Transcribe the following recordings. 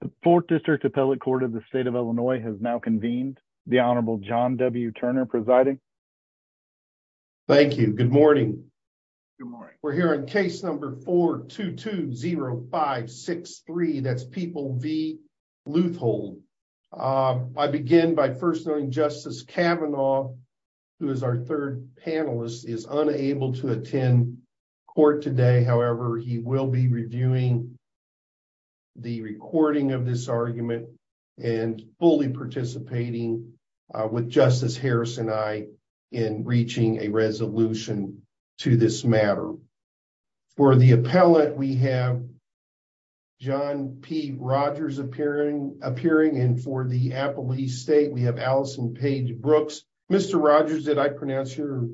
The Fourth District Appellate Court of the State of Illinois has now convened. The Honorable John W. Turner presiding. Thank you. Good morning. Good morning. We're here on case number 4-2-2-0-5-6-3, that's People v. Leuthold. I begin by first noting Justice Kavanaugh, who is our third panelist, is unable to attend court today. However, he will be reviewing the recording of this argument and fully participating with Justice Harris and I in reaching a resolution to this matter. For the appellate, we have John P. Rogers appearing, and for the Appellee State, we have Allison Paige Brooks. Mr. Rogers, did I pronounce your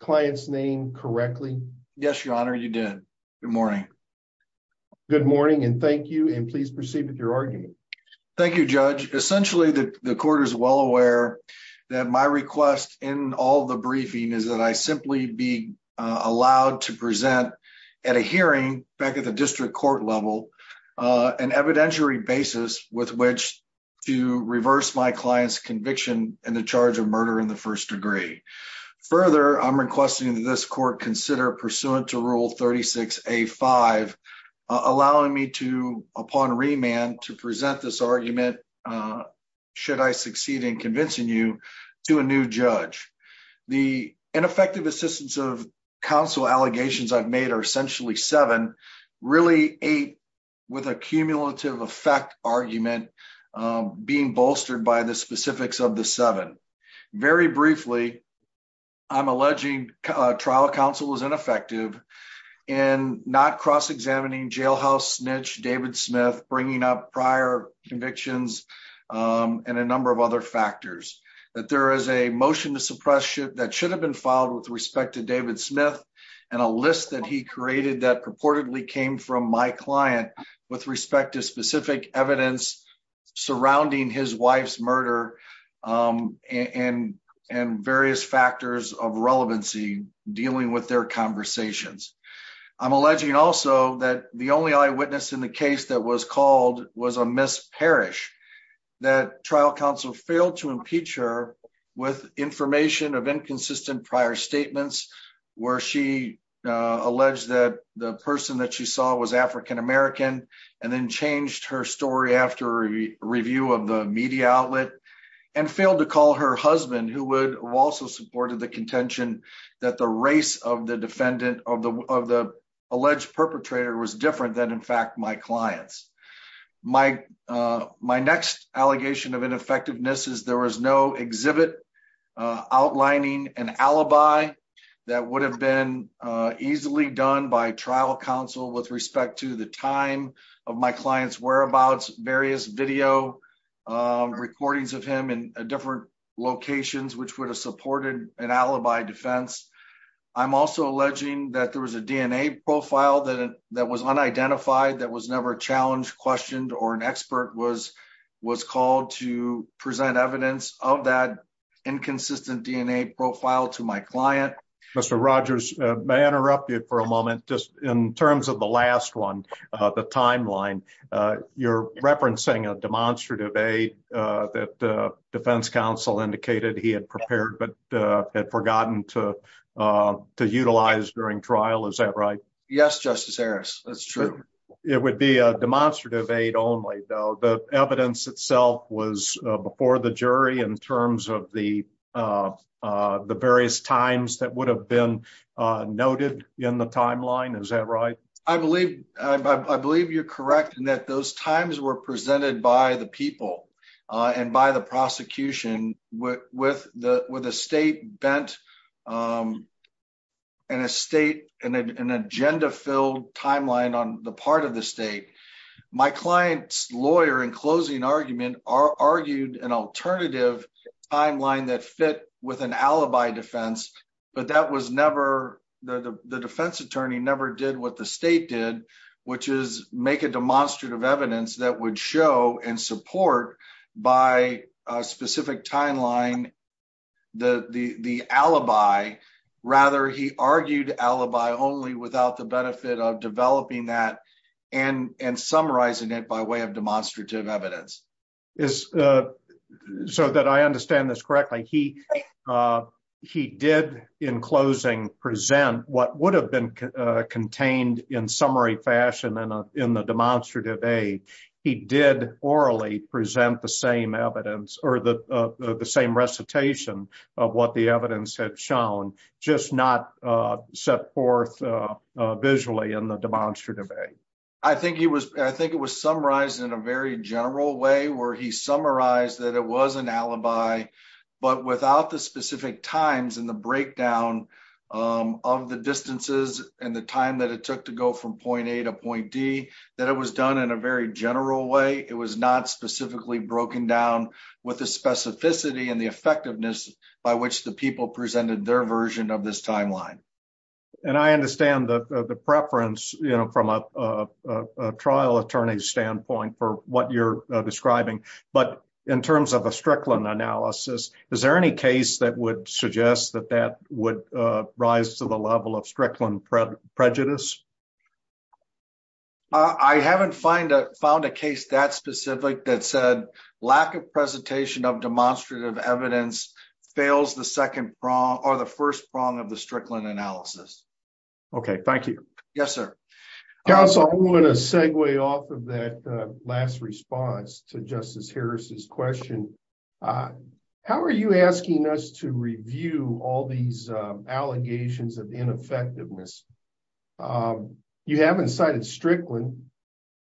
client's name correctly? Yes, Your Honor, you did. Good morning. Good morning, and thank you, and please proceed with your argument. Thank you, Judge. Essentially, the court is well aware that my request in all the briefing is that I simply be allowed to present at a hearing back at the district court level an evidentiary basis with which to reverse my client's conviction in the charge of murder in the first degree. Further, I'm requesting that this court consider pursuant to Rule 36A-5, allowing me to, upon remand, to present this argument, should I succeed in convincing you, to a new judge. The ineffective assistance of counsel allegations I've made are essentially seven, really eight with a cumulative effect argument being bolstered by the specifics of the seven. Very briefly, I'm alleging trial counsel was ineffective in not cross-examining jailhouse snitch David Smith, bringing up prior convictions and a number of other factors, that there is a motion to suppress that should have been filed with respect to David Smith and a list that he created that purportedly came from my client with respect to specific evidence surrounding his wife's murder and various factors of relevancy dealing with their conversations. I'm alleging also that the only eyewitness in the case that was called was a Miss Parrish, that trial counsel failed to impeach her with information of inconsistent prior statements where she alleged that the person that she saw was African-American and then changed her story after a review of the media outlet and failed to call her husband who would have also supported the contention that the race of the defendant of the alleged perpetrator was different than in fact my clients. My next allegation of ineffectiveness is there was no exhibit outlining an alibi that would have been easily done by trial counsel with respect to the time of my client's whereabouts, various video recordings of him in different locations which would have supported an alibi defense. I'm also alleging that there was a DNA profile that that was unidentified that was never challenged, questioned, or an expert was called to present evidence of that inconsistent DNA profile to my client. Mr. Rogers, may I interrupt you for a moment? I'm just curious about the timeline. You're referencing a demonstrative aid that defense counsel indicated he had prepared but had forgotten to to utilize during trial, is that right? Yes, Justice Harris, that's true. It would be a demonstrative aid only though the evidence itself was before the jury in terms of the the various times that would have been noted in the timeline, is that right? I believe you're correct in that those times were presented by the people and by the prosecution with a state-bent and an agenda-filled timeline on the part of the state. My client's lawyer in closing argument argued an alternative timeline that fit with an alibi defense but the defense attorney never did what the state did which is make a demonstrative evidence that would show and support by a specific timeline the alibi. Rather, he argued alibi only without the benefit of developing that and summarizing it by way of demonstrative evidence. So that I understand this correctly, he did in closing present what would have been contained in summary fashion in the demonstrative aid. He did orally present the same evidence or the same recitation of what the evidence had shown, just not set forth visually in the demonstrative aid. I think it was summarized in a very general way where he summarized that it was an alibi but without the specific times and the breakdown of the distances and the time that it took to go from point A to point D, that it was done in a very general way. It was not specifically broken down with the specificity and the effectiveness by which the people presented their version of this timeline. And I understand the preference from a trial attorney's standpoint for what you're describing but in terms of a Strickland analysis, is there any case that would suggest that that would rise to the level of Strickland prejudice? I haven't found a case that specific that said lack of fails the second prong or the first prong of the Strickland analysis. Okay, thank you. Yes, sir. Counsel, I want to segue off of that last response to Justice Harris's question. How are you asking us to review all these allegations of ineffectiveness? You haven't cited Strickland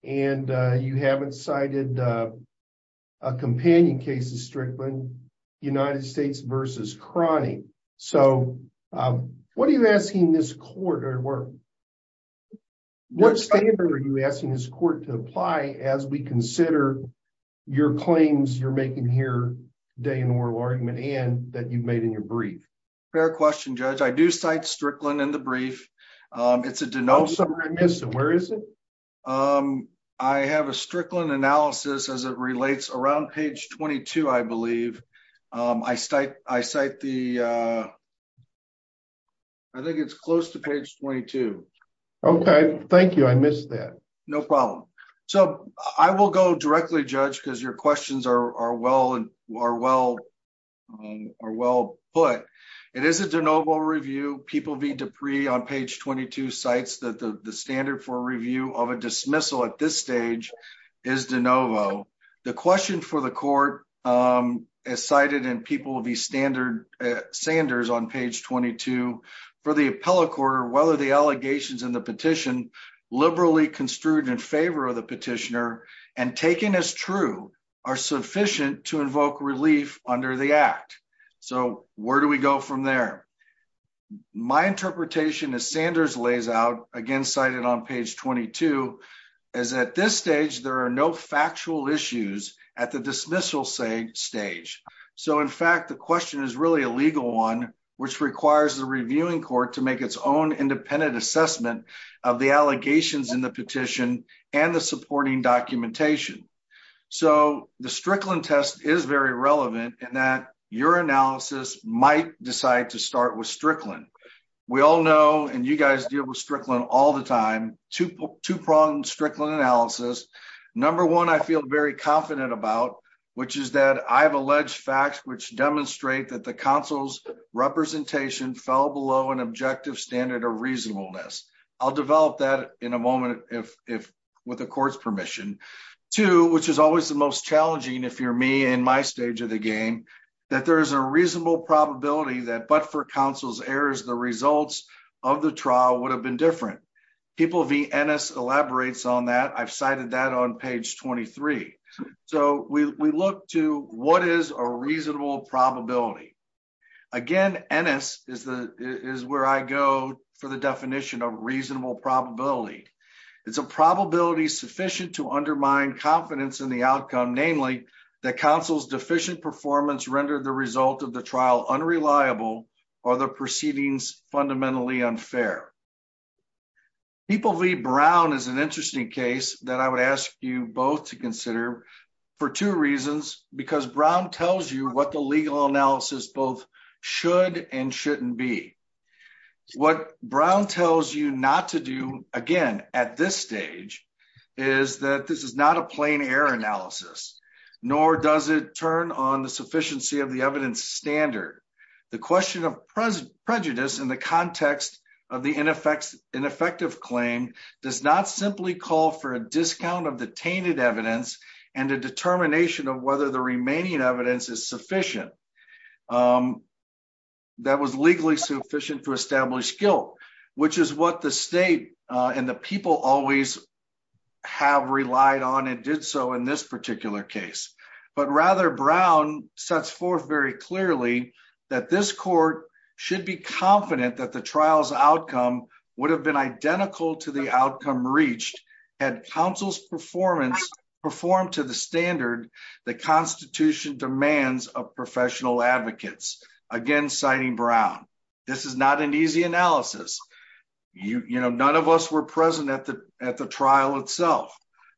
and you haven't cited a companion case of Strickland, United States versus Crony. So what are you asking this court or what standard are you asking this court to apply as we consider your claims you're making here today in oral argument and that you've made in your brief? Fair question, Judge. I do cite Strickland in the brief. It's a denoted- Where is it? I have a Strickland analysis as it relates around page 22, I believe. I cite the- I think it's close to page 22. Okay, thank you. I missed that. No problem. So I will go directly, Judge, because your questions are well put. It is de novo review. People v. Dupree on page 22 cites that the standard for review of a dismissal at this stage is de novo. The question for the court is cited in People v. Sanders on page 22 for the appellate court whether the allegations in the petition, liberally construed in favor of the petitioner and taken as true, are sufficient to invoke relief under the act. So where do we go from there? My interpretation as Sanders lays out, again cited on page 22, is at this stage there are no factual issues at the dismissal stage. So in fact, the question is really a legal one which requires the reviewing court to make its own independent assessment of the allegations in the petition and the supporting documentation. So the Strickland test is very relevant in that your analysis might decide to start with Strickland. We all know, and you guys deal with Strickland all the time, two-pronged Strickland analysis. Number one, I feel very confident about, which is that I have alleged facts which demonstrate that the counsel's representation fell below an objective standard of reasonableness. I'll which is always the most challenging if you're me in my stage of the game, that there is a reasonable probability that but for counsel's errors, the results of the trial would have been different. People v. Ennis elaborates on that. I've cited that on page 23. So we look to what is a reasonable probability. Again, Ennis is where I go for the definition of reasonable probability. It's a probability sufficient to undermine confidence in the outcome, namely that counsel's deficient performance rendered the result of the trial unreliable or the proceedings fundamentally unfair. People v. Brown is an interesting case that I would ask you both to consider for two reasons, because Brown tells you what the legal analysis both should and shouldn't be. What Brown tells you not to do again at this stage is that this is not a plain error analysis, nor does it turn on the sufficiency of the evidence standard. The question of prejudice in the context of the ineffective claim does not simply call for a discount of the tainted evidence and a determination of whether the remaining evidence is sufficient. That was legally sufficient to establish guilt, which is what the state and the people always have relied on and did so in this particular case. But rather, Brown sets forth very clearly that this court should be confident that the trial's outcome would have been identical to the outcome reached had counsel's performance performed to the standard the Constitution demands of professional advocates. Again, citing Brown, this is not an easy analysis. None of us were present at the trial itself,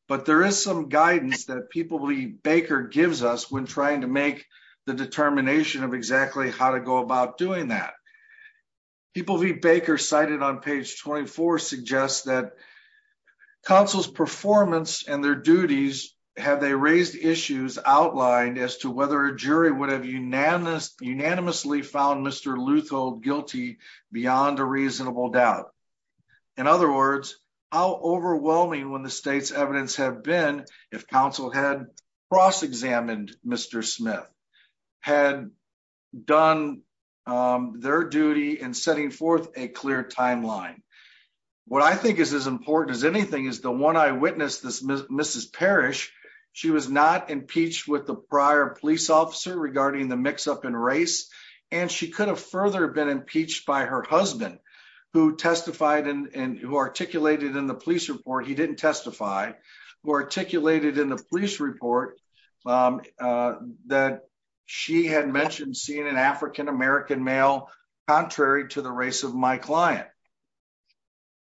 but there is some guidance that People v. Baker gives us when trying to make the determination of exactly how to go about doing that. People v. Baker, cited on page 24, suggests that counsel's performance and their duties have they raised issues outlined as to whether a jury would have unanimously found Mr. Luthold guilty beyond a reasonable doubt. In other words, how overwhelming would the state's evidence have been if counsel had cross-examined Mr. Smith, had done their duty in setting forth a clear timeline. What I think is as important as the one I witnessed, Mrs. Parrish, she was not impeached with the prior police officer regarding the mix-up in race, and she could have further been impeached by her husband who testified and who articulated in the police report, he didn't testify, who articulated in the police report that she had mentioned seeing an African-American male contrary to the race of my client.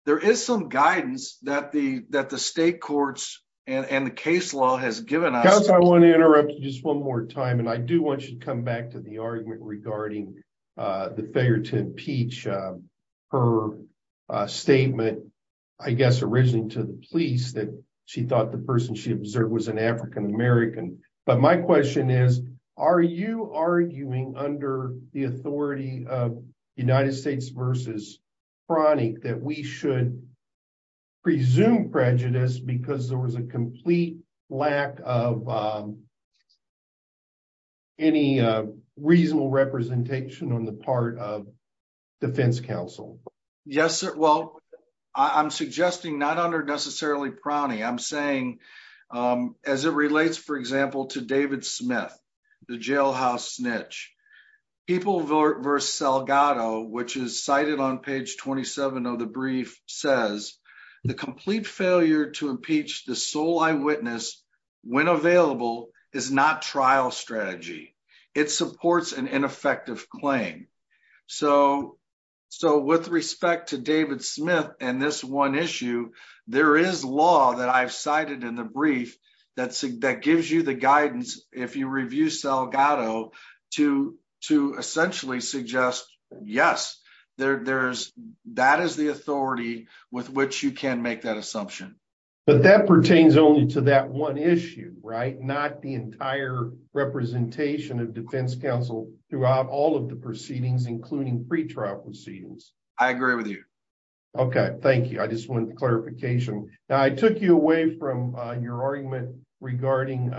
There is some guidance that the state courts and the case law has given us. Counsel, I want to interrupt you just one more time, and I do want you to come back to the argument regarding the failure to impeach, her statement, I guess, originally to the police that she thought the person she observed was an African-American. But my question is, are you prying that we should presume prejudice because there was a complete lack of any reasonable representation on the part of defense counsel? Yes, sir. Well, I'm suggesting not under necessarily prying, I'm saying, as it relates, for example, to David Smith, the jailhouse snitch, people versus Salgado, which is cited on page 27 of the brief, says the complete failure to impeach the sole eyewitness when available is not trial strategy. It supports an ineffective claim. So with respect to David Smith and this one issue, there is law that I've cited in the brief that gives you the guidance if you review Salgado to essentially suggest, yes, that is the authority with which you can make that assumption. But that pertains only to that one issue, right? Not the entire representation of defense counsel throughout all of the proceedings, including pre-trial proceedings. I agree with you. Okay. Thank you. I just wanted the clarification. Now, I took you away from your argument regarding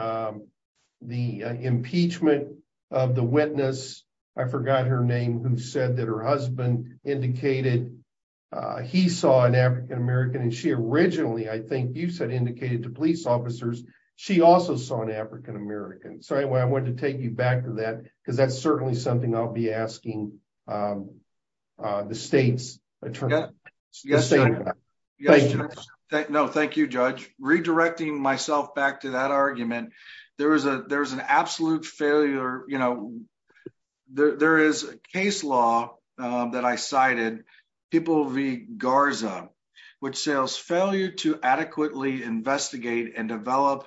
the impeachment of the witness. I forgot her name, who said that her husband indicated he saw an African-American and she originally, I think you said, indicated to police officers she also saw an African-American. So anyway, I wanted to take you back to that because that's certainly something I'll be asking the state's attorney. Thank you. No, thank you, Judge. Redirecting myself back to that argument, there is an absolute failure. There is a case law that I cited, People v. Garza, which says failure to adequately investigate and develop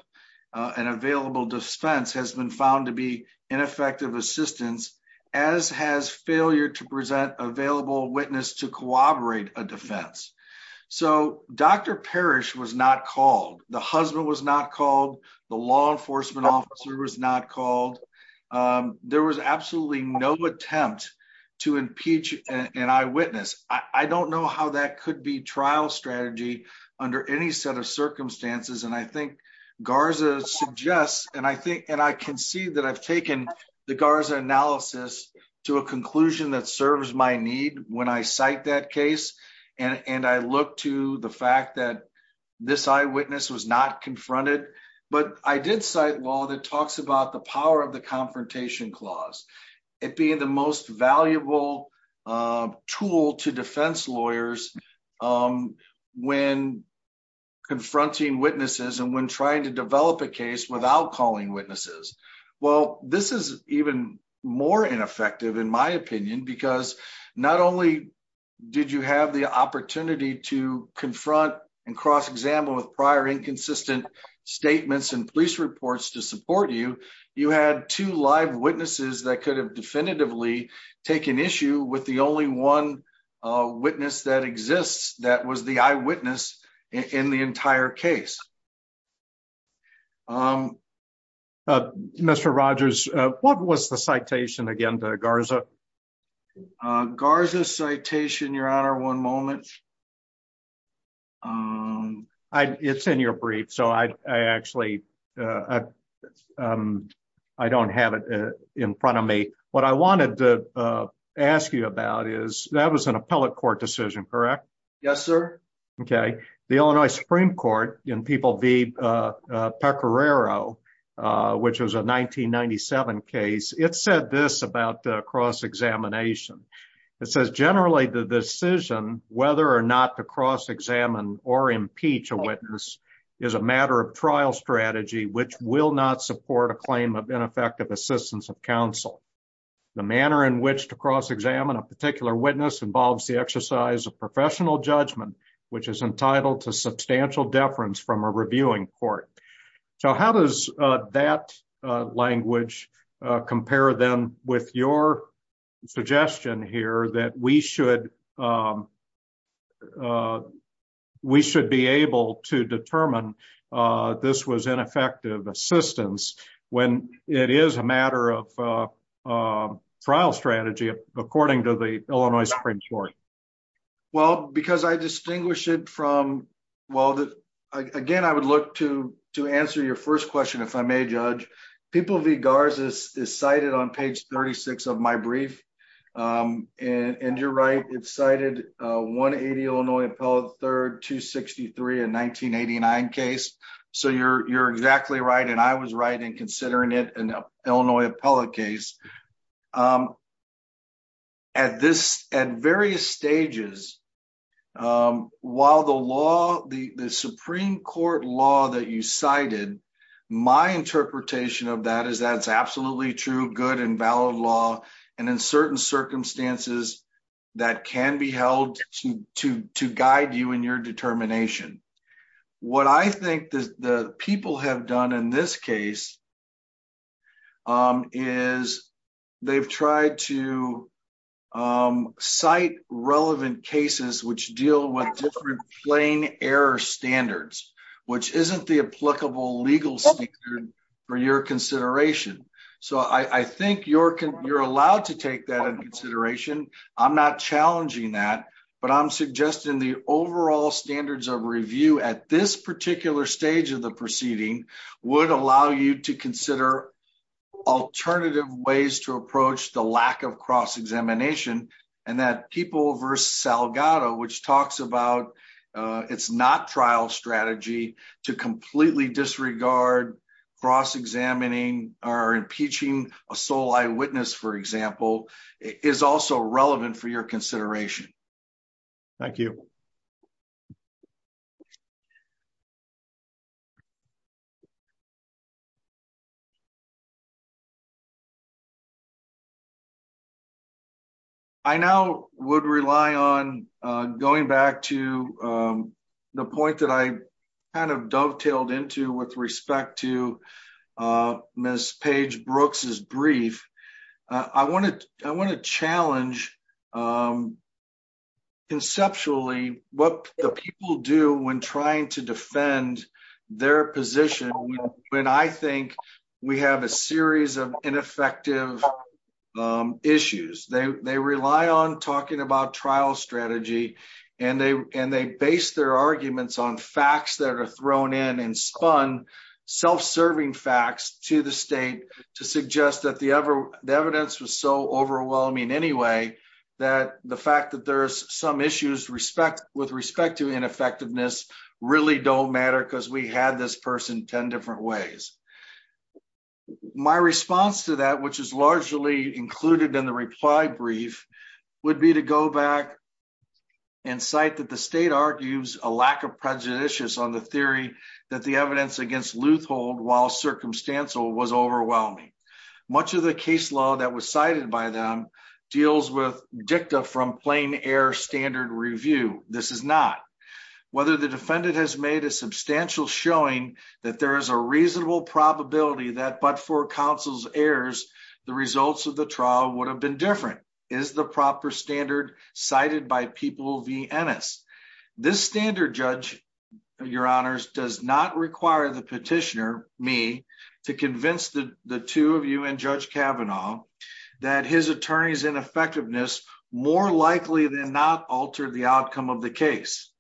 an available defense has been found to be ineffective assistance, as has failure to present available witness to corroborate a defense. So Dr. Parrish was not called. The husband was not called. The law enforcement officer was not called. There was absolutely no attempt to impeach an eyewitness. I don't know how that could be trial strategy under any set of circumstances. And I think Garza suggests, and I can see that I've to a conclusion that serves my need when I cite that case. And I look to the fact that this eyewitness was not confronted. But I did cite law that talks about the power of the confrontation clause. It being the most valuable tool to defense lawyers when confronting witnesses and when trying to develop a case without calling witnesses. Well, this is even more ineffective, in my opinion, because not only did you have the opportunity to confront and cross-example with prior inconsistent statements and police reports to support you, you had two live witnesses that could have definitively taken issue with the only one witness that exists that was the eyewitness in the entire case. Mr. Rogers, what was the citation again to Garza? Garza's citation, your honor, one moment. It's in your brief, so I actually, I don't have it in front of me. What I wanted to ask you about is that was an appellate court decision, correct? Yes, sir. Okay. The Illinois Supreme Court in People v. Pecoraro, which was a 1997 case, it said this about cross-examination. It says, generally, the decision whether or not to cross-examine or impeach a witness is a matter of trial strategy, which will not support a claim of ineffective assistance of counsel. The manner in which to cross-examine a particular witness involves the exercise of professional judgment, which is entitled to substantial deference from a reviewing court. So how does that language compare, then, with your suggestion here that we should be able to determine this was ineffective assistance when it is a matter of trial strategy, according to the Illinois Supreme Court? Well, because I distinguish it from, well, again, I would look to answer your first question, if I may, Judge. People v. Garza is cited on page 36 of my brief, and you're right, it's cited 180 Illinois Appellate, 3rd, 263, a 1989 case. So you're exactly right, and I was right in considering it an Illinois appellate case. At various stages, while the law, the Supreme Court law that you cited, my interpretation of that is that it's absolutely true, good and valid law, and in certain circumstances, that can be held to guide you in your determination. What I think the people have done in this case is they've tried to cite relevant cases which deal with different plain error standards, which isn't the applicable legal standard for your consideration. So I think you're allowed to take that into consideration. I'm not challenging that, but I'm suggesting the overall standards of review at this particular stage of the proceeding would allow you to consider alternative ways to approach the lack of cross-examination, and that people v. Salgado, which talks about it's not trial strategy to completely disregard cross-examining or impeaching a sole eyewitness, for example, is also relevant for your consideration. Thank you. I now would rely on going back to the point that I kind of dovetailed into with respect to Ms. Paige Brooks' brief. I want to challenge conceptually what the people do when trying to defend their position when I think we have a series of ineffective issues. They rely on talking about trial strategy, and they base their arguments on facts that are thrown in and spun self-serving facts to the state to suggest that the evidence was so overwhelming anyway that the fact that there's some issues with respect to ineffectiveness really don't matter because we had this person 10 different ways. My response to that, which is largely included in the reply brief, would be to go back and cite that the state argues a lack of prejudices on the theory that the evidence against loothold while circumstantial was overwhelming. Much of the case law that was cited by them deals with dicta from plain air standard review. This is not. Whether the defendant has made a substantial showing that there is a reasonable probability that but for counsel's errors, the results of the trial would have been different is the proper standard cited by people v. Ennis. This standard, Judge, your honors, does not judge Kavanaugh that his attorney's ineffectiveness more likely than not altered the outcome of the case.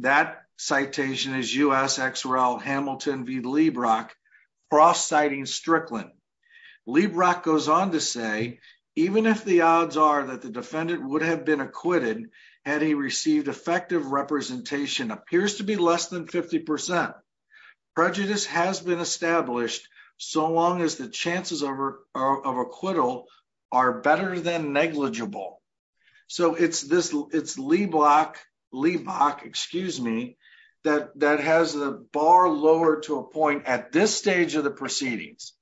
That citation is U.S. XRL Hamilton v. Leibrock cross-citing Strickland. Leibrock goes on to say even if the odds are that the defendant would have been acquitted had he received effective representation appears to be less than 50%, prejudice has been established so long as the chances of acquittal are better than negligible. So it's Leibrock that has a bar lower to a point at this stage of the proceedings,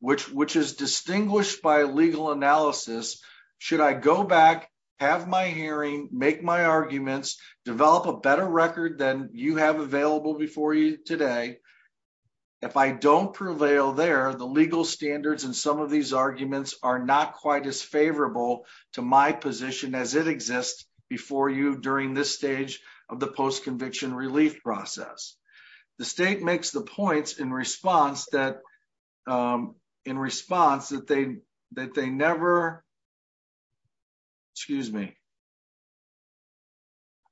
which is distinguished by legal analysis. Should I go back, have my hearing, make my arguments, develop a better record than you have available before you today, if I don't prevail there, the legal standards in some of these arguments are not quite as favorable to my position as it exists before you during this stage of the post-conviction relief process. The state makes the points in response that they never, excuse me,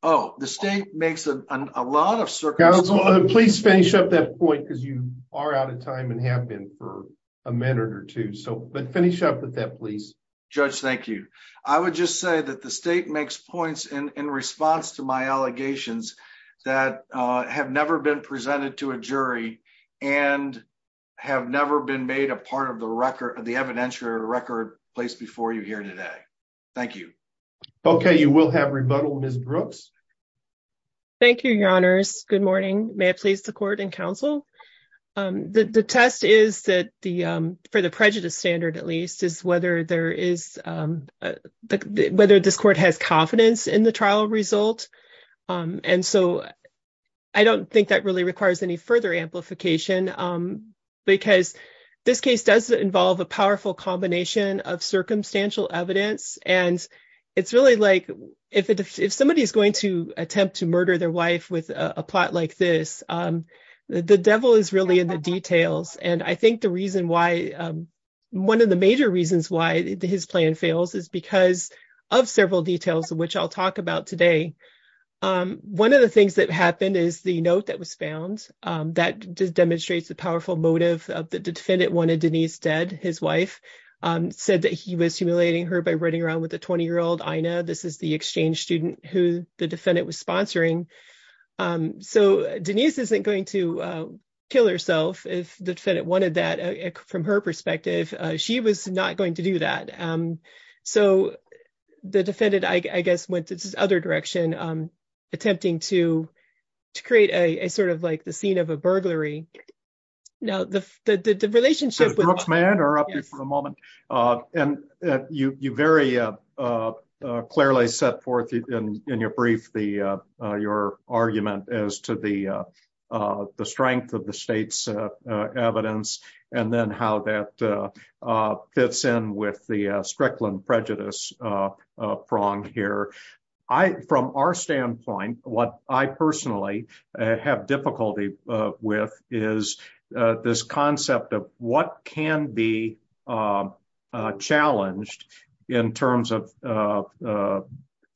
oh, the state makes a lot of circumstances. Please finish up that point because you are out of time and have been for a minute or two. But finish up with that, please. Judge, thank you. I would just say that the state makes points in response to my allegations that have never been presented to a jury and have never been made a part of the record, the evidentiary record placed before you here today. Thank you. Okay. You will have rebuttal, Ms. Brooks. Thank you, your honors. Good morning. May it please the court and counsel. The test is that for the prejudice standard, at least, is whether this court has confidence in the trial result. And so I don't think that really requires any further amplification because this case does involve a powerful combination of circumstantial evidence. And it's really like if somebody is going to attempt to murder their wife with a plot like this, the devil is really in the details. And I think one of the major reasons why his plan fails is because of several details, which I'll talk about today. One of the things that happened is the note that was found that just demonstrates the powerful motive of the defendant wanted Denise dead. His wife said that he was humiliating her by running around with a 20-year-old. I know this is the exchange student who the defendant was sponsoring. So Denise isn't going to kill herself if the defendant wanted that. From her perspective, she was not going to do that. So the defendant, I guess, went this other direction, attempting to create a sort of like the scene of a burglary. Now, the relationship with- Ms. Brooks, may I interrupt you for a moment? And you very clearly set forth in your brief your argument as to the strength of the state's evidence and then how that fits in with the Strickland prejudice pronged here. From our standpoint, what I personally have difficulty with is this concept of what can be challenged in terms of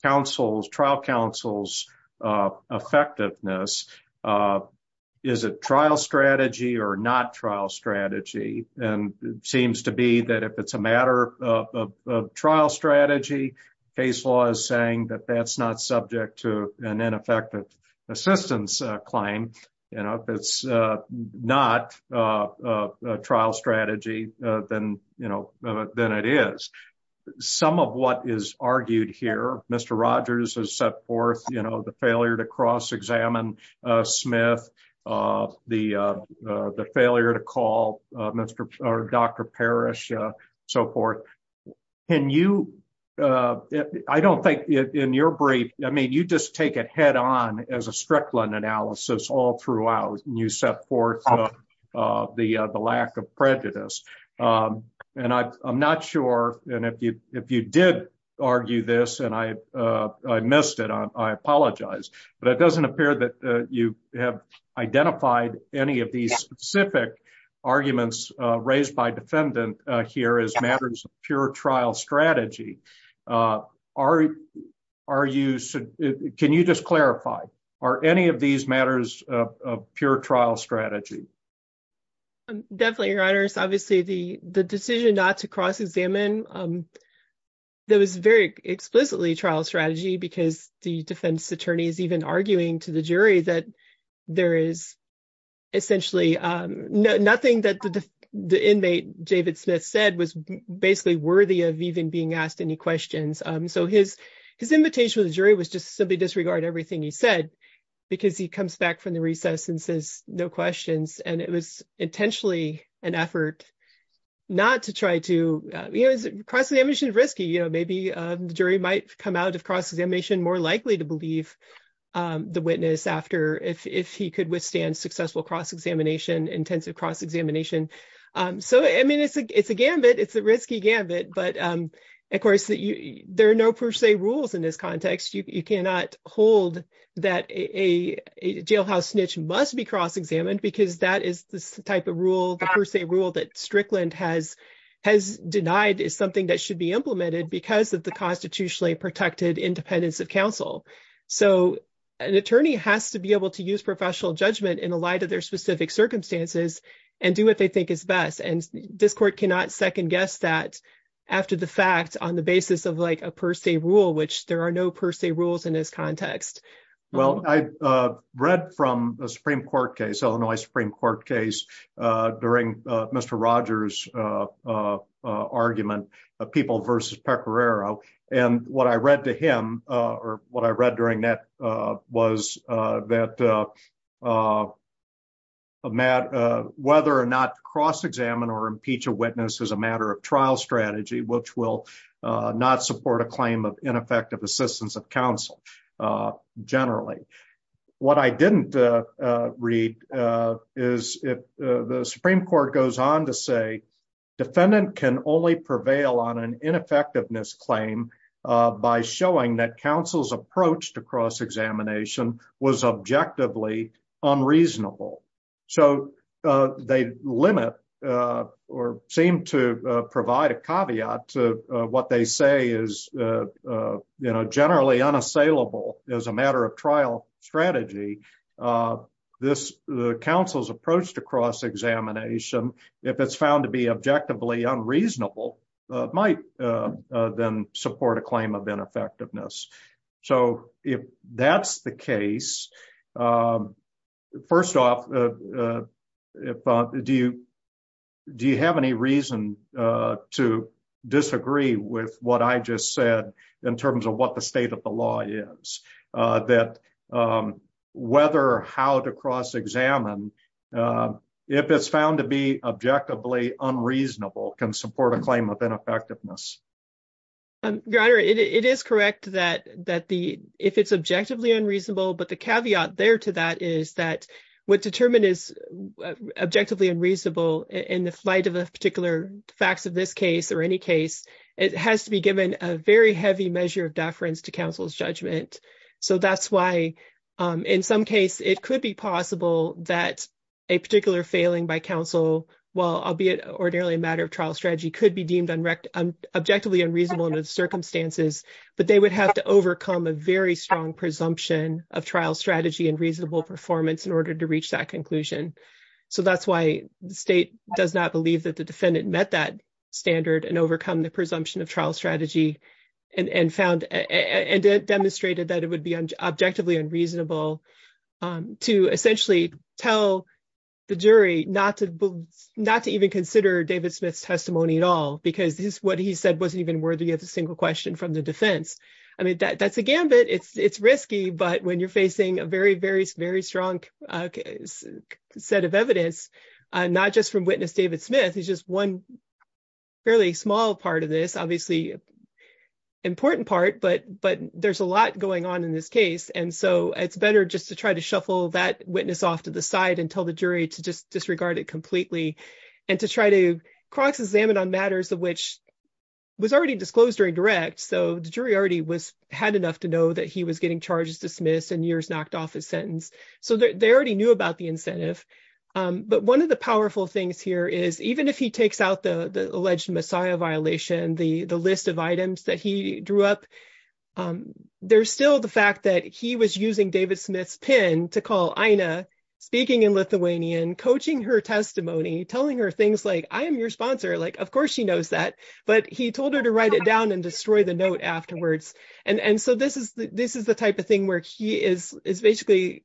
counsel's, trial counsel's effectiveness. Is it trial strategy or not trial strategy? And it seems to be that if it's a matter of trial strategy, case law is saying that that's not subject to an ineffective assistance claim. And if it's not a trial strategy, then it is. Some of what is argued here, Mr. Rogers has set forth, you know, the failure to cross-examine Smith, the failure to call Dr. Parrish, so forth. And you, I don't think in your brief, I mean, you just take it head on as a Strickland analysis all throughout and you set forth the lack of prejudice. And I'm not sure, and if you did argue this and I missed it, I apologize, but it doesn't appear that you have identified any of these specific arguments raised by defendant here as matters of pure trial strategy. Can you just clarify, are any of these matters of pure trial strategy? Definitely, Your Honor. It's obviously the decision not to cross-examine that was very explicitly trial strategy because the defense attorney is even arguing to the jury that there is essentially nothing that the inmate, David Smith said was basically worthy of even being asked any questions. So his invitation to the jury was just simply disregard everything he comes back from the recess and says no questions. And it was intentionally an effort not to try to, you know, cross-examination is risky, you know, maybe the jury might come out of cross-examination more likely to believe the witness after, if he could withstand successful cross-examination, intensive cross-examination. So, I mean, it's a gambit, it's a risky gambit, but of course, there are no per se rules in this context. You cannot hold that a jailhouse snitch must be cross-examined because that is the type of rule, the per se rule that Strickland has denied is something that should be implemented because of the constitutionally protected independence of counsel. So an attorney has to be able to use professional judgment in the light of their specific circumstances and do what they think is best. And this court cannot second that after the fact on the basis of like a per se rule, which there are no per se rules in this context. Well, I read from a Supreme Court case, Illinois Supreme Court case during Mr. Rogers argument of people versus Pecoraro. And what I read to him or what I read during that was that a matter of whether or not cross-examine or impeach a witness as a matter of trial strategy, which will not support a claim of ineffective assistance of counsel generally. What I didn't read is if the Supreme Court goes on to say, defendant can only prevail on an ineffectiveness claim by showing that counsel's approach to cross-examination was objectively unreasonable. So they limit or seem to provide a caveat to what they say is generally unassailable as a matter of trial strategy. This counsel's approach to cross-examination, if it's found to be objectively unreasonable, might then support a claim of ineffectiveness. So if that's the case, first off, do you have any reason to disagree with what I just said in terms of what the state of the law is, that whether or how to cross-examine, if it's found to be objectively unreasonable, can support a claim of ineffectiveness? Your Honor, it is correct that if it's objectively unreasonable, but the caveat there to that is that what determined is objectively unreasonable in the flight of a particular facts of this case or any case, it has to be given a very heavy measure of deference to counsel's judgment. So that's why, in some case, it could be possible that a particular failing by counsel, albeit ordinarily a matter of trial strategy, could be deemed objectively unreasonable under the circumstances, but they would have to overcome a very strong presumption of trial strategy and reasonable performance in order to reach that conclusion. So that's why the state does not believe that the defendant met that standard and overcome the presumption of trial strategy and found and demonstrated that it would be objectively unreasonable to essentially tell the jury not to even consider David Smith's testimony at all, because what he said wasn't even worthy of a single question from the defense. I mean, that's a gambit. It's risky, but when you're facing a very, very, very strong set of evidence, not just from witness David Smith, he's just one fairly small part of this, obviously important part, but there's a lot going on in this case, and so it's better just to try to shuffle that witness off to the side and tell the jury to just disregard it completely and to try to cross-examine on matters of which was already disclosed during direct, so the jury already had enough to know that he was getting charges dismissed and yours knocked off his sentence. So they already knew about the incentive, but one of the powerful things here is, even if he takes out the alleged Messiah violation, the list of items that he drew up, there's still the fact that he was using David Smith's pin to call Ina, speaking in Lithuanian, coaching her testimony, telling her things like, I am your sponsor, like, of course she knows that, but he told her to write it down and destroy the note afterwards, and so this is the type of thing where he is basically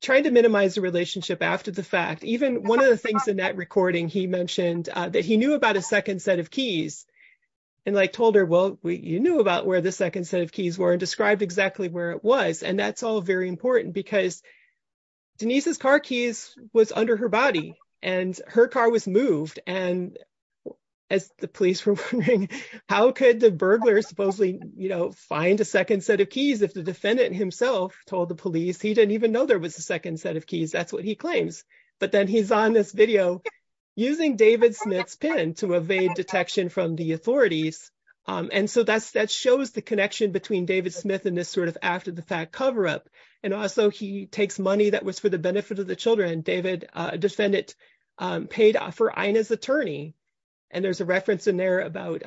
trying to minimize the relationship after the fact. Even one of the things in that recording, he mentioned that he knew about a second set of keys and told her, well, you knew about where the second set of keys were and described exactly where it was, and that's all very important because Denise's car keys was under her body and her car was moved, and as the police were wondering, how could the burglar supposedly find a second set of keys if the defendant himself told the police he didn't even know there was a second set of keys? That's what he claims, but then he's on this video using David Smith's pin to evade detection from the authorities, and so that shows the connection between David Smith and this sort of after the fact cover-up, and also he takes money that was for the benefit of the children. A defendant paid for Ina's attorney, and there's a reference in there about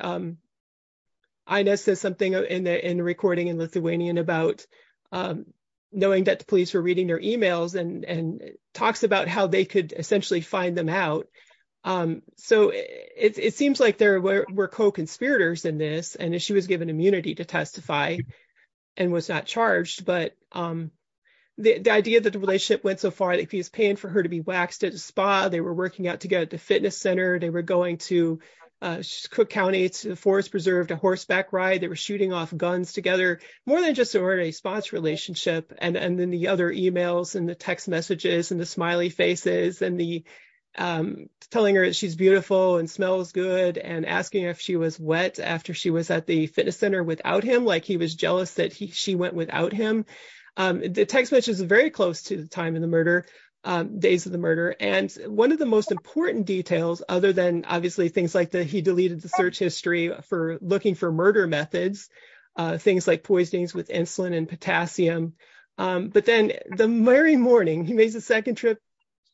Ina says something in the recording about knowing that the police were reading their emails and talks about how they could essentially find them out, so it seems like there were co-conspirators in this, and she was given immunity to testify and was not charged, but the idea that the relationship went so far that he was paying for her to be waxed at a spa, they were working out together at the fitness center, they were going to Cook County to Forest Preserve to horseback ride, they were shooting off guns together, more than just an ordinary spa relationship, and then the other emails and the text messages and the smiley faces and the telling her she's beautiful and smells good and asking if she was wet after she was at the fitness center without him, like he was jealous that she went without him. The text message is very close to the time of the murder, days of the murder, and one of the most important details other than obviously things like that he deleted the search for looking for murder methods, things like poisonings with insulin and potassium, but then the very morning he makes a second trip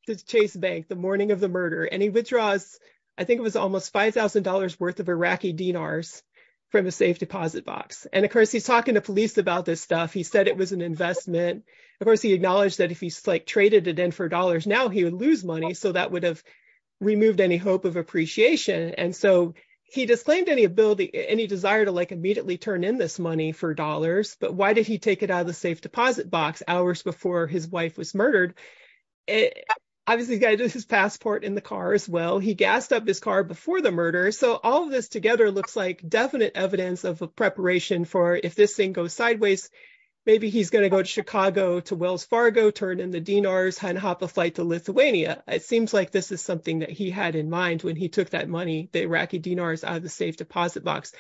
to Chase Bank, the morning of the murder, and he withdraws I think it was almost $5,000 worth of Iraqi dinars from a safe deposit box, and of course he's talking to police about this stuff, he said it was an investment, of course he acknowledged that if he traded it in for dollars now he would lose money, so that would have removed any hope of appreciation, and so he disclaimed any ability, any desire to like immediately turn in this money for dollars, but why did he take it out of the safe deposit box hours before his wife was murdered? Obviously he's got his passport in the car as well, he gassed up his car before the murder, so all of this together looks like definite evidence of a preparation for if this thing goes sideways, maybe he's going to go to this is something that he had in mind when he took that money, the Iraqi dinars out of the safe deposit box.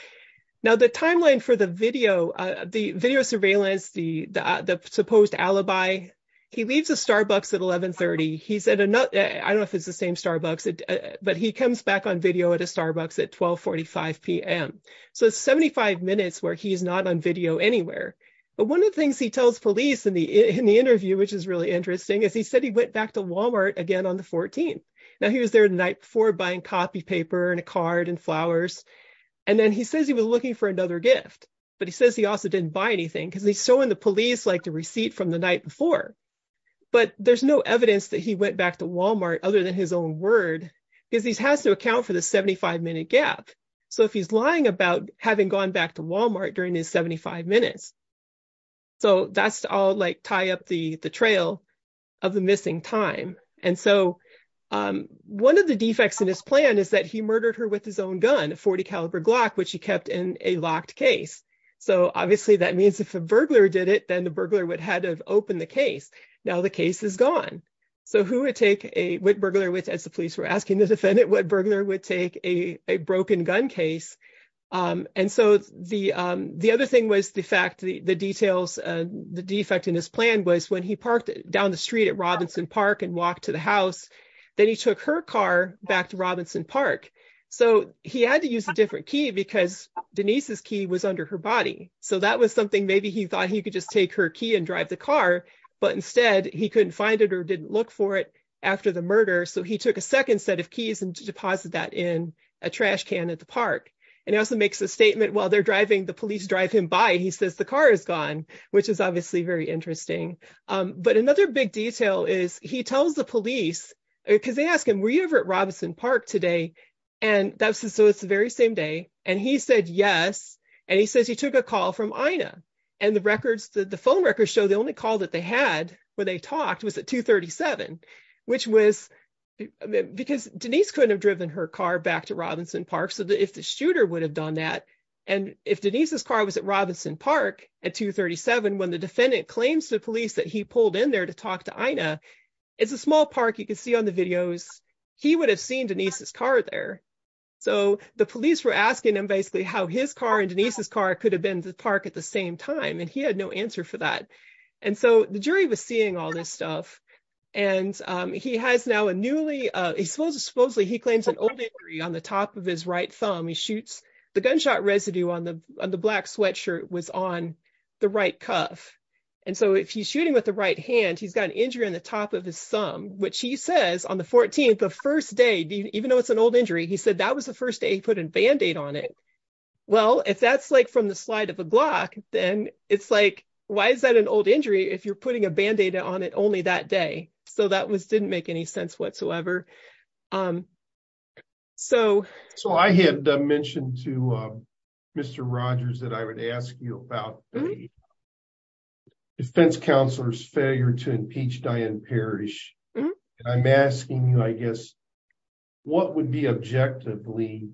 Now the timeline for the video, the video surveillance, the supposed alibi, he leaves a Starbucks at 11 30, he's at another, I don't know if it's the same Starbucks, but he comes back on video at a Starbucks at 12 45 pm, so it's 75 minutes where he's not on video anywhere, but one of the things he tells police in the interview, which is really interesting, is he said he went back to Walmart again on the 14th, now he was there the night before buying copy paper and a card and flowers, and then he says he was looking for another gift, but he says he also didn't buy anything because he's showing the police like the receipt from the night before, but there's no evidence that he went back to Walmart other than his own word, because he has to account for the 75 minute gap, so if he's lying about having gone back to Walmart during his 75 minutes, so that's all like tie up the the trail of the missing time, and so one of the defects in his plan is that he murdered her with his own gun, a 40 caliber Glock, which he kept in a locked case, so obviously that means if a burglar did it, then the burglar would have had to open the case, now the case is gone, so who would take a, what burglar, as the police were asking the defendant, what burglar would take a broken gun case, and so the other thing was the fact the details, the defect in his plan was when he parked down the street at Robinson Park and walked to the house, then he took her car back to Robinson Park, so he had to use a different key, because Denise's key was under her body, so that was something maybe he thought he could just take her key and drive the car, but instead he couldn't find it or didn't look for it after the murder, so he took a second set of keys and deposited that in a trash can at the park, and he also makes a statement while they're driving, the police drive him by, he says the car is gone, which is obviously very interesting, but another big detail is he tells the police, because they ask him, were you ever at Robinson Park today, and that was, so it's the very same day, and he said yes, and he says he took a call from INA, and the records, the phone records show the only call that they had where they talked was at 237, which was, because Denise couldn't have driven her car back to Robinson Park, so if the shooter would have done that, and if Denise's car was at Robinson Park at 237, when the defendant claims to police that he pulled in there to talk to INA, it's a small park, you can see on the videos, he would have seen Denise's car there, so the police were asking him basically how his car and Denise's car could have been to the park at the same time, and he had no answer for that, and so the jury was seeing all this stuff, and he has now a newly, he supposedly claims an old injury on the top of his right thumb, he shoots, the gunshot residue on the black sweatshirt was on the right cuff, and so if he's shooting with the right hand, he's got an injury on the top of his thumb, which he says on the 14th, the first day, even though it's an old injury, he said that was the first day he put a band-aid on it, well, if that's like from the slide of a Glock, then it's why is that an old injury if you're putting a band-aid on it only that day, so that didn't make any sense whatsoever. So I had mentioned to Mr. Rogers that I would ask you about the defense counselor's failure to impeach Diane Parrish, and I'm asking you, I guess, what would be objectively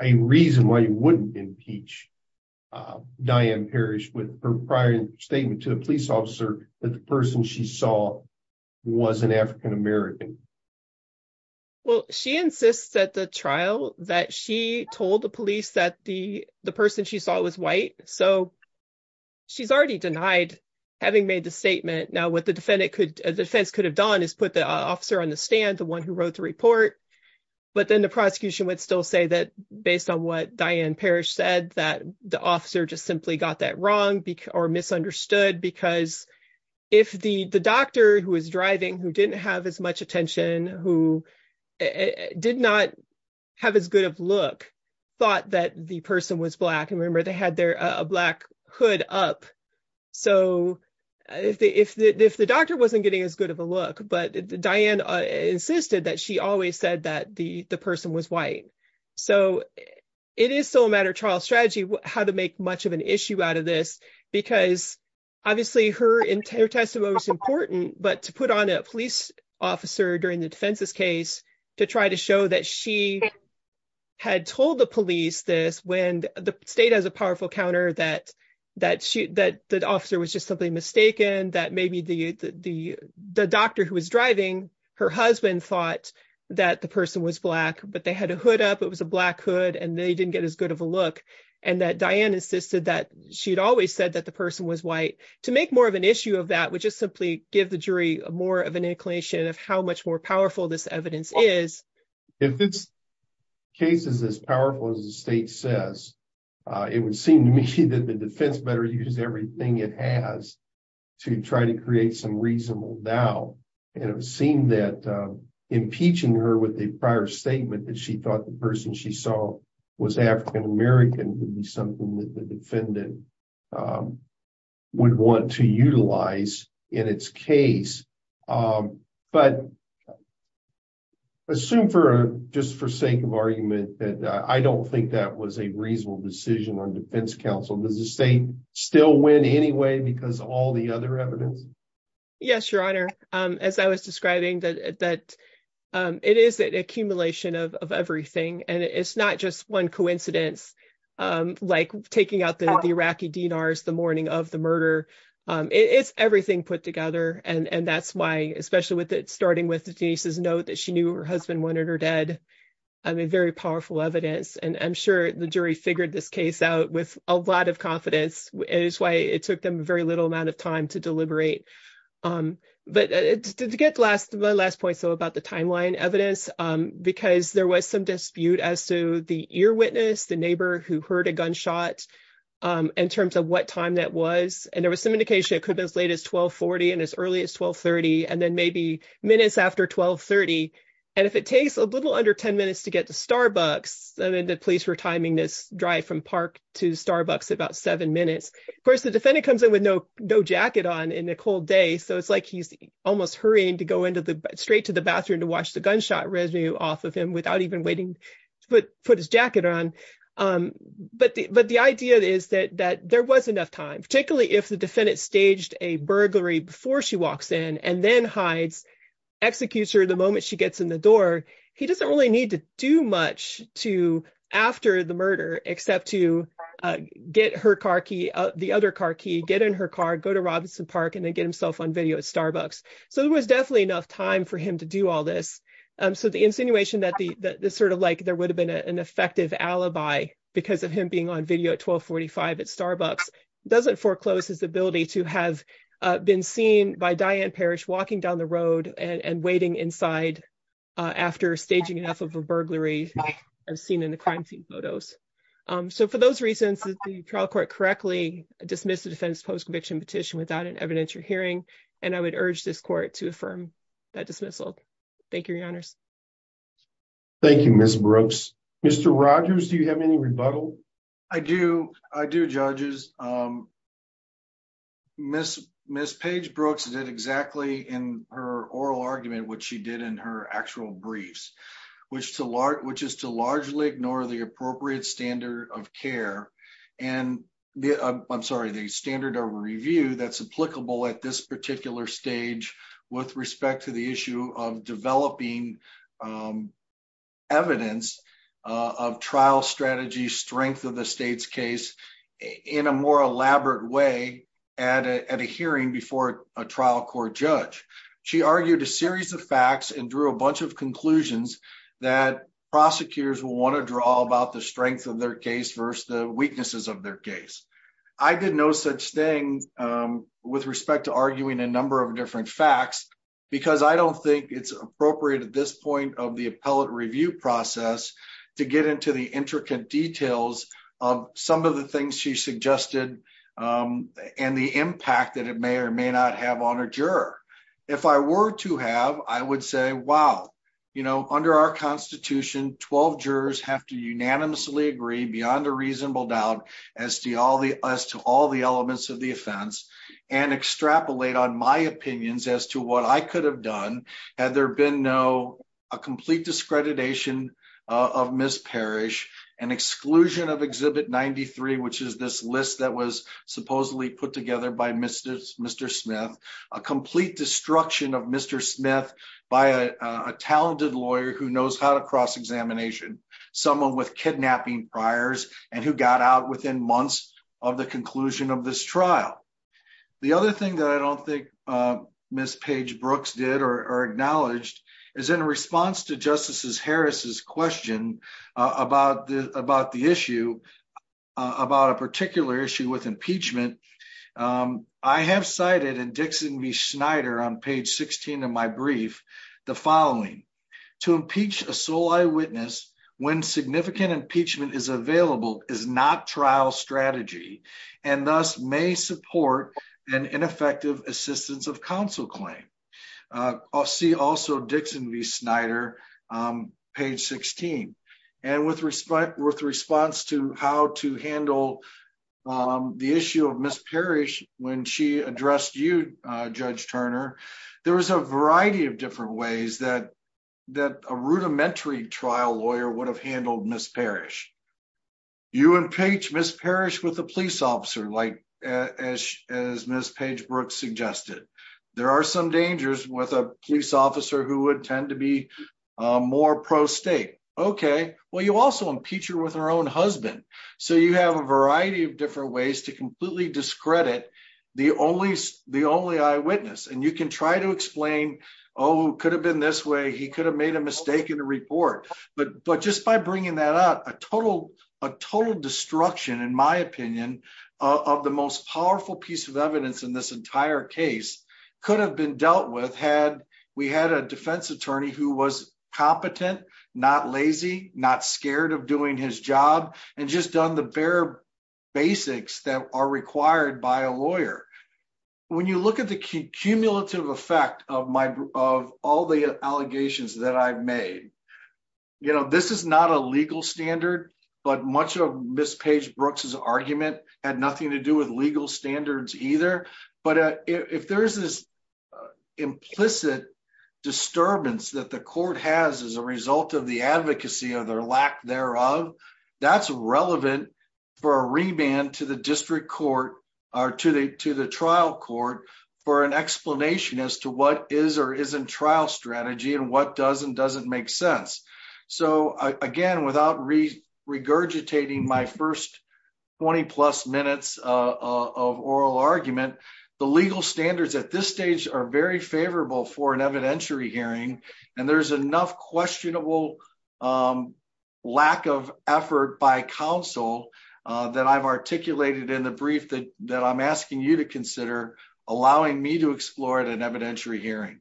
a reason why you wouldn't impeach Diane Parrish with her prior statement to a police officer that the person she saw was an African-American? Well, she insists at the trial that she told the police that the person she saw was white, so she's already denied having made the statement. Now, what the defense could have done is put the officer on the stand, the one who wrote the report, but then the prosecution would still say that based on what Diane Parrish said, that the officer just simply got that wrong or misunderstood because if the doctor who was driving, who didn't have as much attention, who did not have as good of look, thought that the person was black, and remember, they had their black hood up, so if the doctor wasn't getting as good of a look, but Diane insisted that she always said that the person was white, so it is still a matter of trial strategy how to make much of an issue out of this because obviously her testimony was important, but to put on a police officer during the defense's case to try to show that she had told the police this when the state has a powerful counter that the officer was just something mistaken, that maybe the doctor who was driving, her husband thought that the person was black, but they had a hood up, it was a black hood, and they didn't get as good of a look, and that Diane insisted that she'd always said that the person was white. To make more of an issue of that would just simply give the jury more of an inclination of how much more powerful this evidence is. If this case is as powerful as the state says, it would seem to me that the defense better use everything it has to try to create some reasonable doubt, and it would seem that impeaching her with a prior statement that she thought the person she saw was African American would be something that the defendant would want to utilize in its case, but assume for just for sake of argument that I don't think that was a reasonable decision on defense counsel. Does the state still win anyway because all the other evidence? Yes, your honor, as I was describing that it is an accumulation of everything, and it's not just one coincidence like taking out the Iraqi dinars the morning of the murder. It's everything put together, and that's why especially with it starting with Denise's note that she knew her husband wanted her dead. I mean, very powerful evidence, and I'm sure the jury figured this case out with a lot of confidence, and it's why it took them very little amount of time to deliberate. But to get last my last point, so about the timeline evidence, because there was some dispute as to the ear witness, the neighbor who heard a gunshot in terms of what time that was, and there was some indication it could be as late as 1240 and as early as 1230, and then maybe minutes after 1230, and if it takes a little under 10 minutes to get to Starbucks, I mean the police were timing this drive from park to Starbucks about seven minutes. Of course, the defendant comes in with no jacket on in a cold day, so it's like he's almost hurrying to go into the straight to the bathroom to wash the gunshot residue off of him without even waiting to put his jacket on. But the idea is that there was enough time, particularly if the defendant staged a burglary before she walks in and then hides, executes her the moment she gets in the door, he doesn't really need to do much to after the murder except to get her car key, the other car key, get in her car, go to Robinson Park, and then get himself on video at Starbucks. So there was definitely enough time for him to do all this. So the insinuation that the sort of like there would have been an effective alibi because of him being on video at 1245 at Starbucks doesn't foreclose his ability to have been seen by Diane Parrish walking down the road and waiting inside after staging enough of a burglary as seen in the crime scene photos. So for those reasons, the trial court correctly dismissed the defense post-conviction petition without an evidentiary hearing, and I would urge this court to affirm that dismissal. Thank you, your honors. Thank you, Ms. Brooks. Mr. Rogers, do you have any rebuttal? I do, I do, judges. Ms. Paige Brooks did exactly in her oral argument what she did in her actual briefs, which is to largely ignore the appropriate standard of review that's applicable at this particular stage with respect to the issue of developing evidence of trial strategy strength of the state's case in a more elaborate way at a hearing before a trial court judge. She argued a series of facts and drew a bunch of conclusions that prosecutors will want to draw about the strength of their case versus the weaknesses of their case. I did no such thing with respect to arguing a number of different facts because I don't think it's appropriate at this point of the appellate review process to get into the intricate details of some of the things she suggested and the impact that it may or may not have on a juror. If I were to have, I would say, wow, you know, under our Constitution, 12 jurors have to unanimously agree beyond a reasonable doubt as to all the elements of the offense and extrapolate on my opinions as to what I could have done had there been no complete discreditation of Ms. Parrish, an exclusion of Exhibit 93, which is this list that was supposedly put together by Mr. Smith, a complete destruction of Mr. Smith by a talented lawyer who knows how to cross-examination, someone with kidnapping priors and who got out within months of the conclusion of this trial. The other thing that I don't think Ms. Page-Brooks did or acknowledged is in response to Justices Harris's question about the issue, about a particular issue with impeachment, I have cited in Dixon v. Schneider on page 16 of my brief the following, to impeach a sole eyewitness when significant impeachment is available is not trial strategy and thus may support an ineffective assistance of counsel claim. I'll see also Dixon v. Schneider on page 16. And with response to how to handle the issue of Ms. Parrish when she addressed you, Judge Turner, there was a variety of different ways that a rudimentary trial lawyer would have handled Ms. Parrish. You impeach Ms. Parrish with a police officer, as Ms. Page-Brooks suggested. There are some dangers with a police officer who would tend to be more pro-state. Okay, well you also impeach her with her own husband. So you have a variety of different ways to completely discredit the only eyewitness. And you can try to explain, oh, it could have been this way, he could have made a mistake in the report. But just by bringing that up, a total destruction, in my opinion, of the most powerful piece of evidence in this entire case could have been dealt with had we had a defense attorney who was competent, not lazy, not scared of doing his job, and just done the bare basics that are required by a lawyer. When you look at the cumulative effect of all the allegations that I've made, this is not a legal standard, but much of Ms. Page-Brooks' argument had nothing to do with legal standards either. But if there's this implicit disturbance that the court has as a relevant for a remand to the district court or to the trial court for an explanation as to what is or isn't trial strategy and what does and doesn't make sense. So again, without regurgitating my first 20-plus minutes of oral argument, the legal standards at this stage are very favorable for an evidentiary hearing, and there's enough questionable lack of effort by counsel that I've articulated in the brief that I'm asking you to consider allowing me to explore at an evidentiary hearing.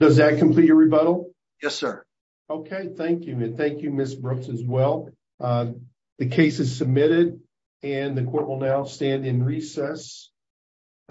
Does that complete your rebuttal? Yes, sir. Okay, thank you. And thank you, Ms. Brooks, as well. The case is submitted, and the court will now stand in recess.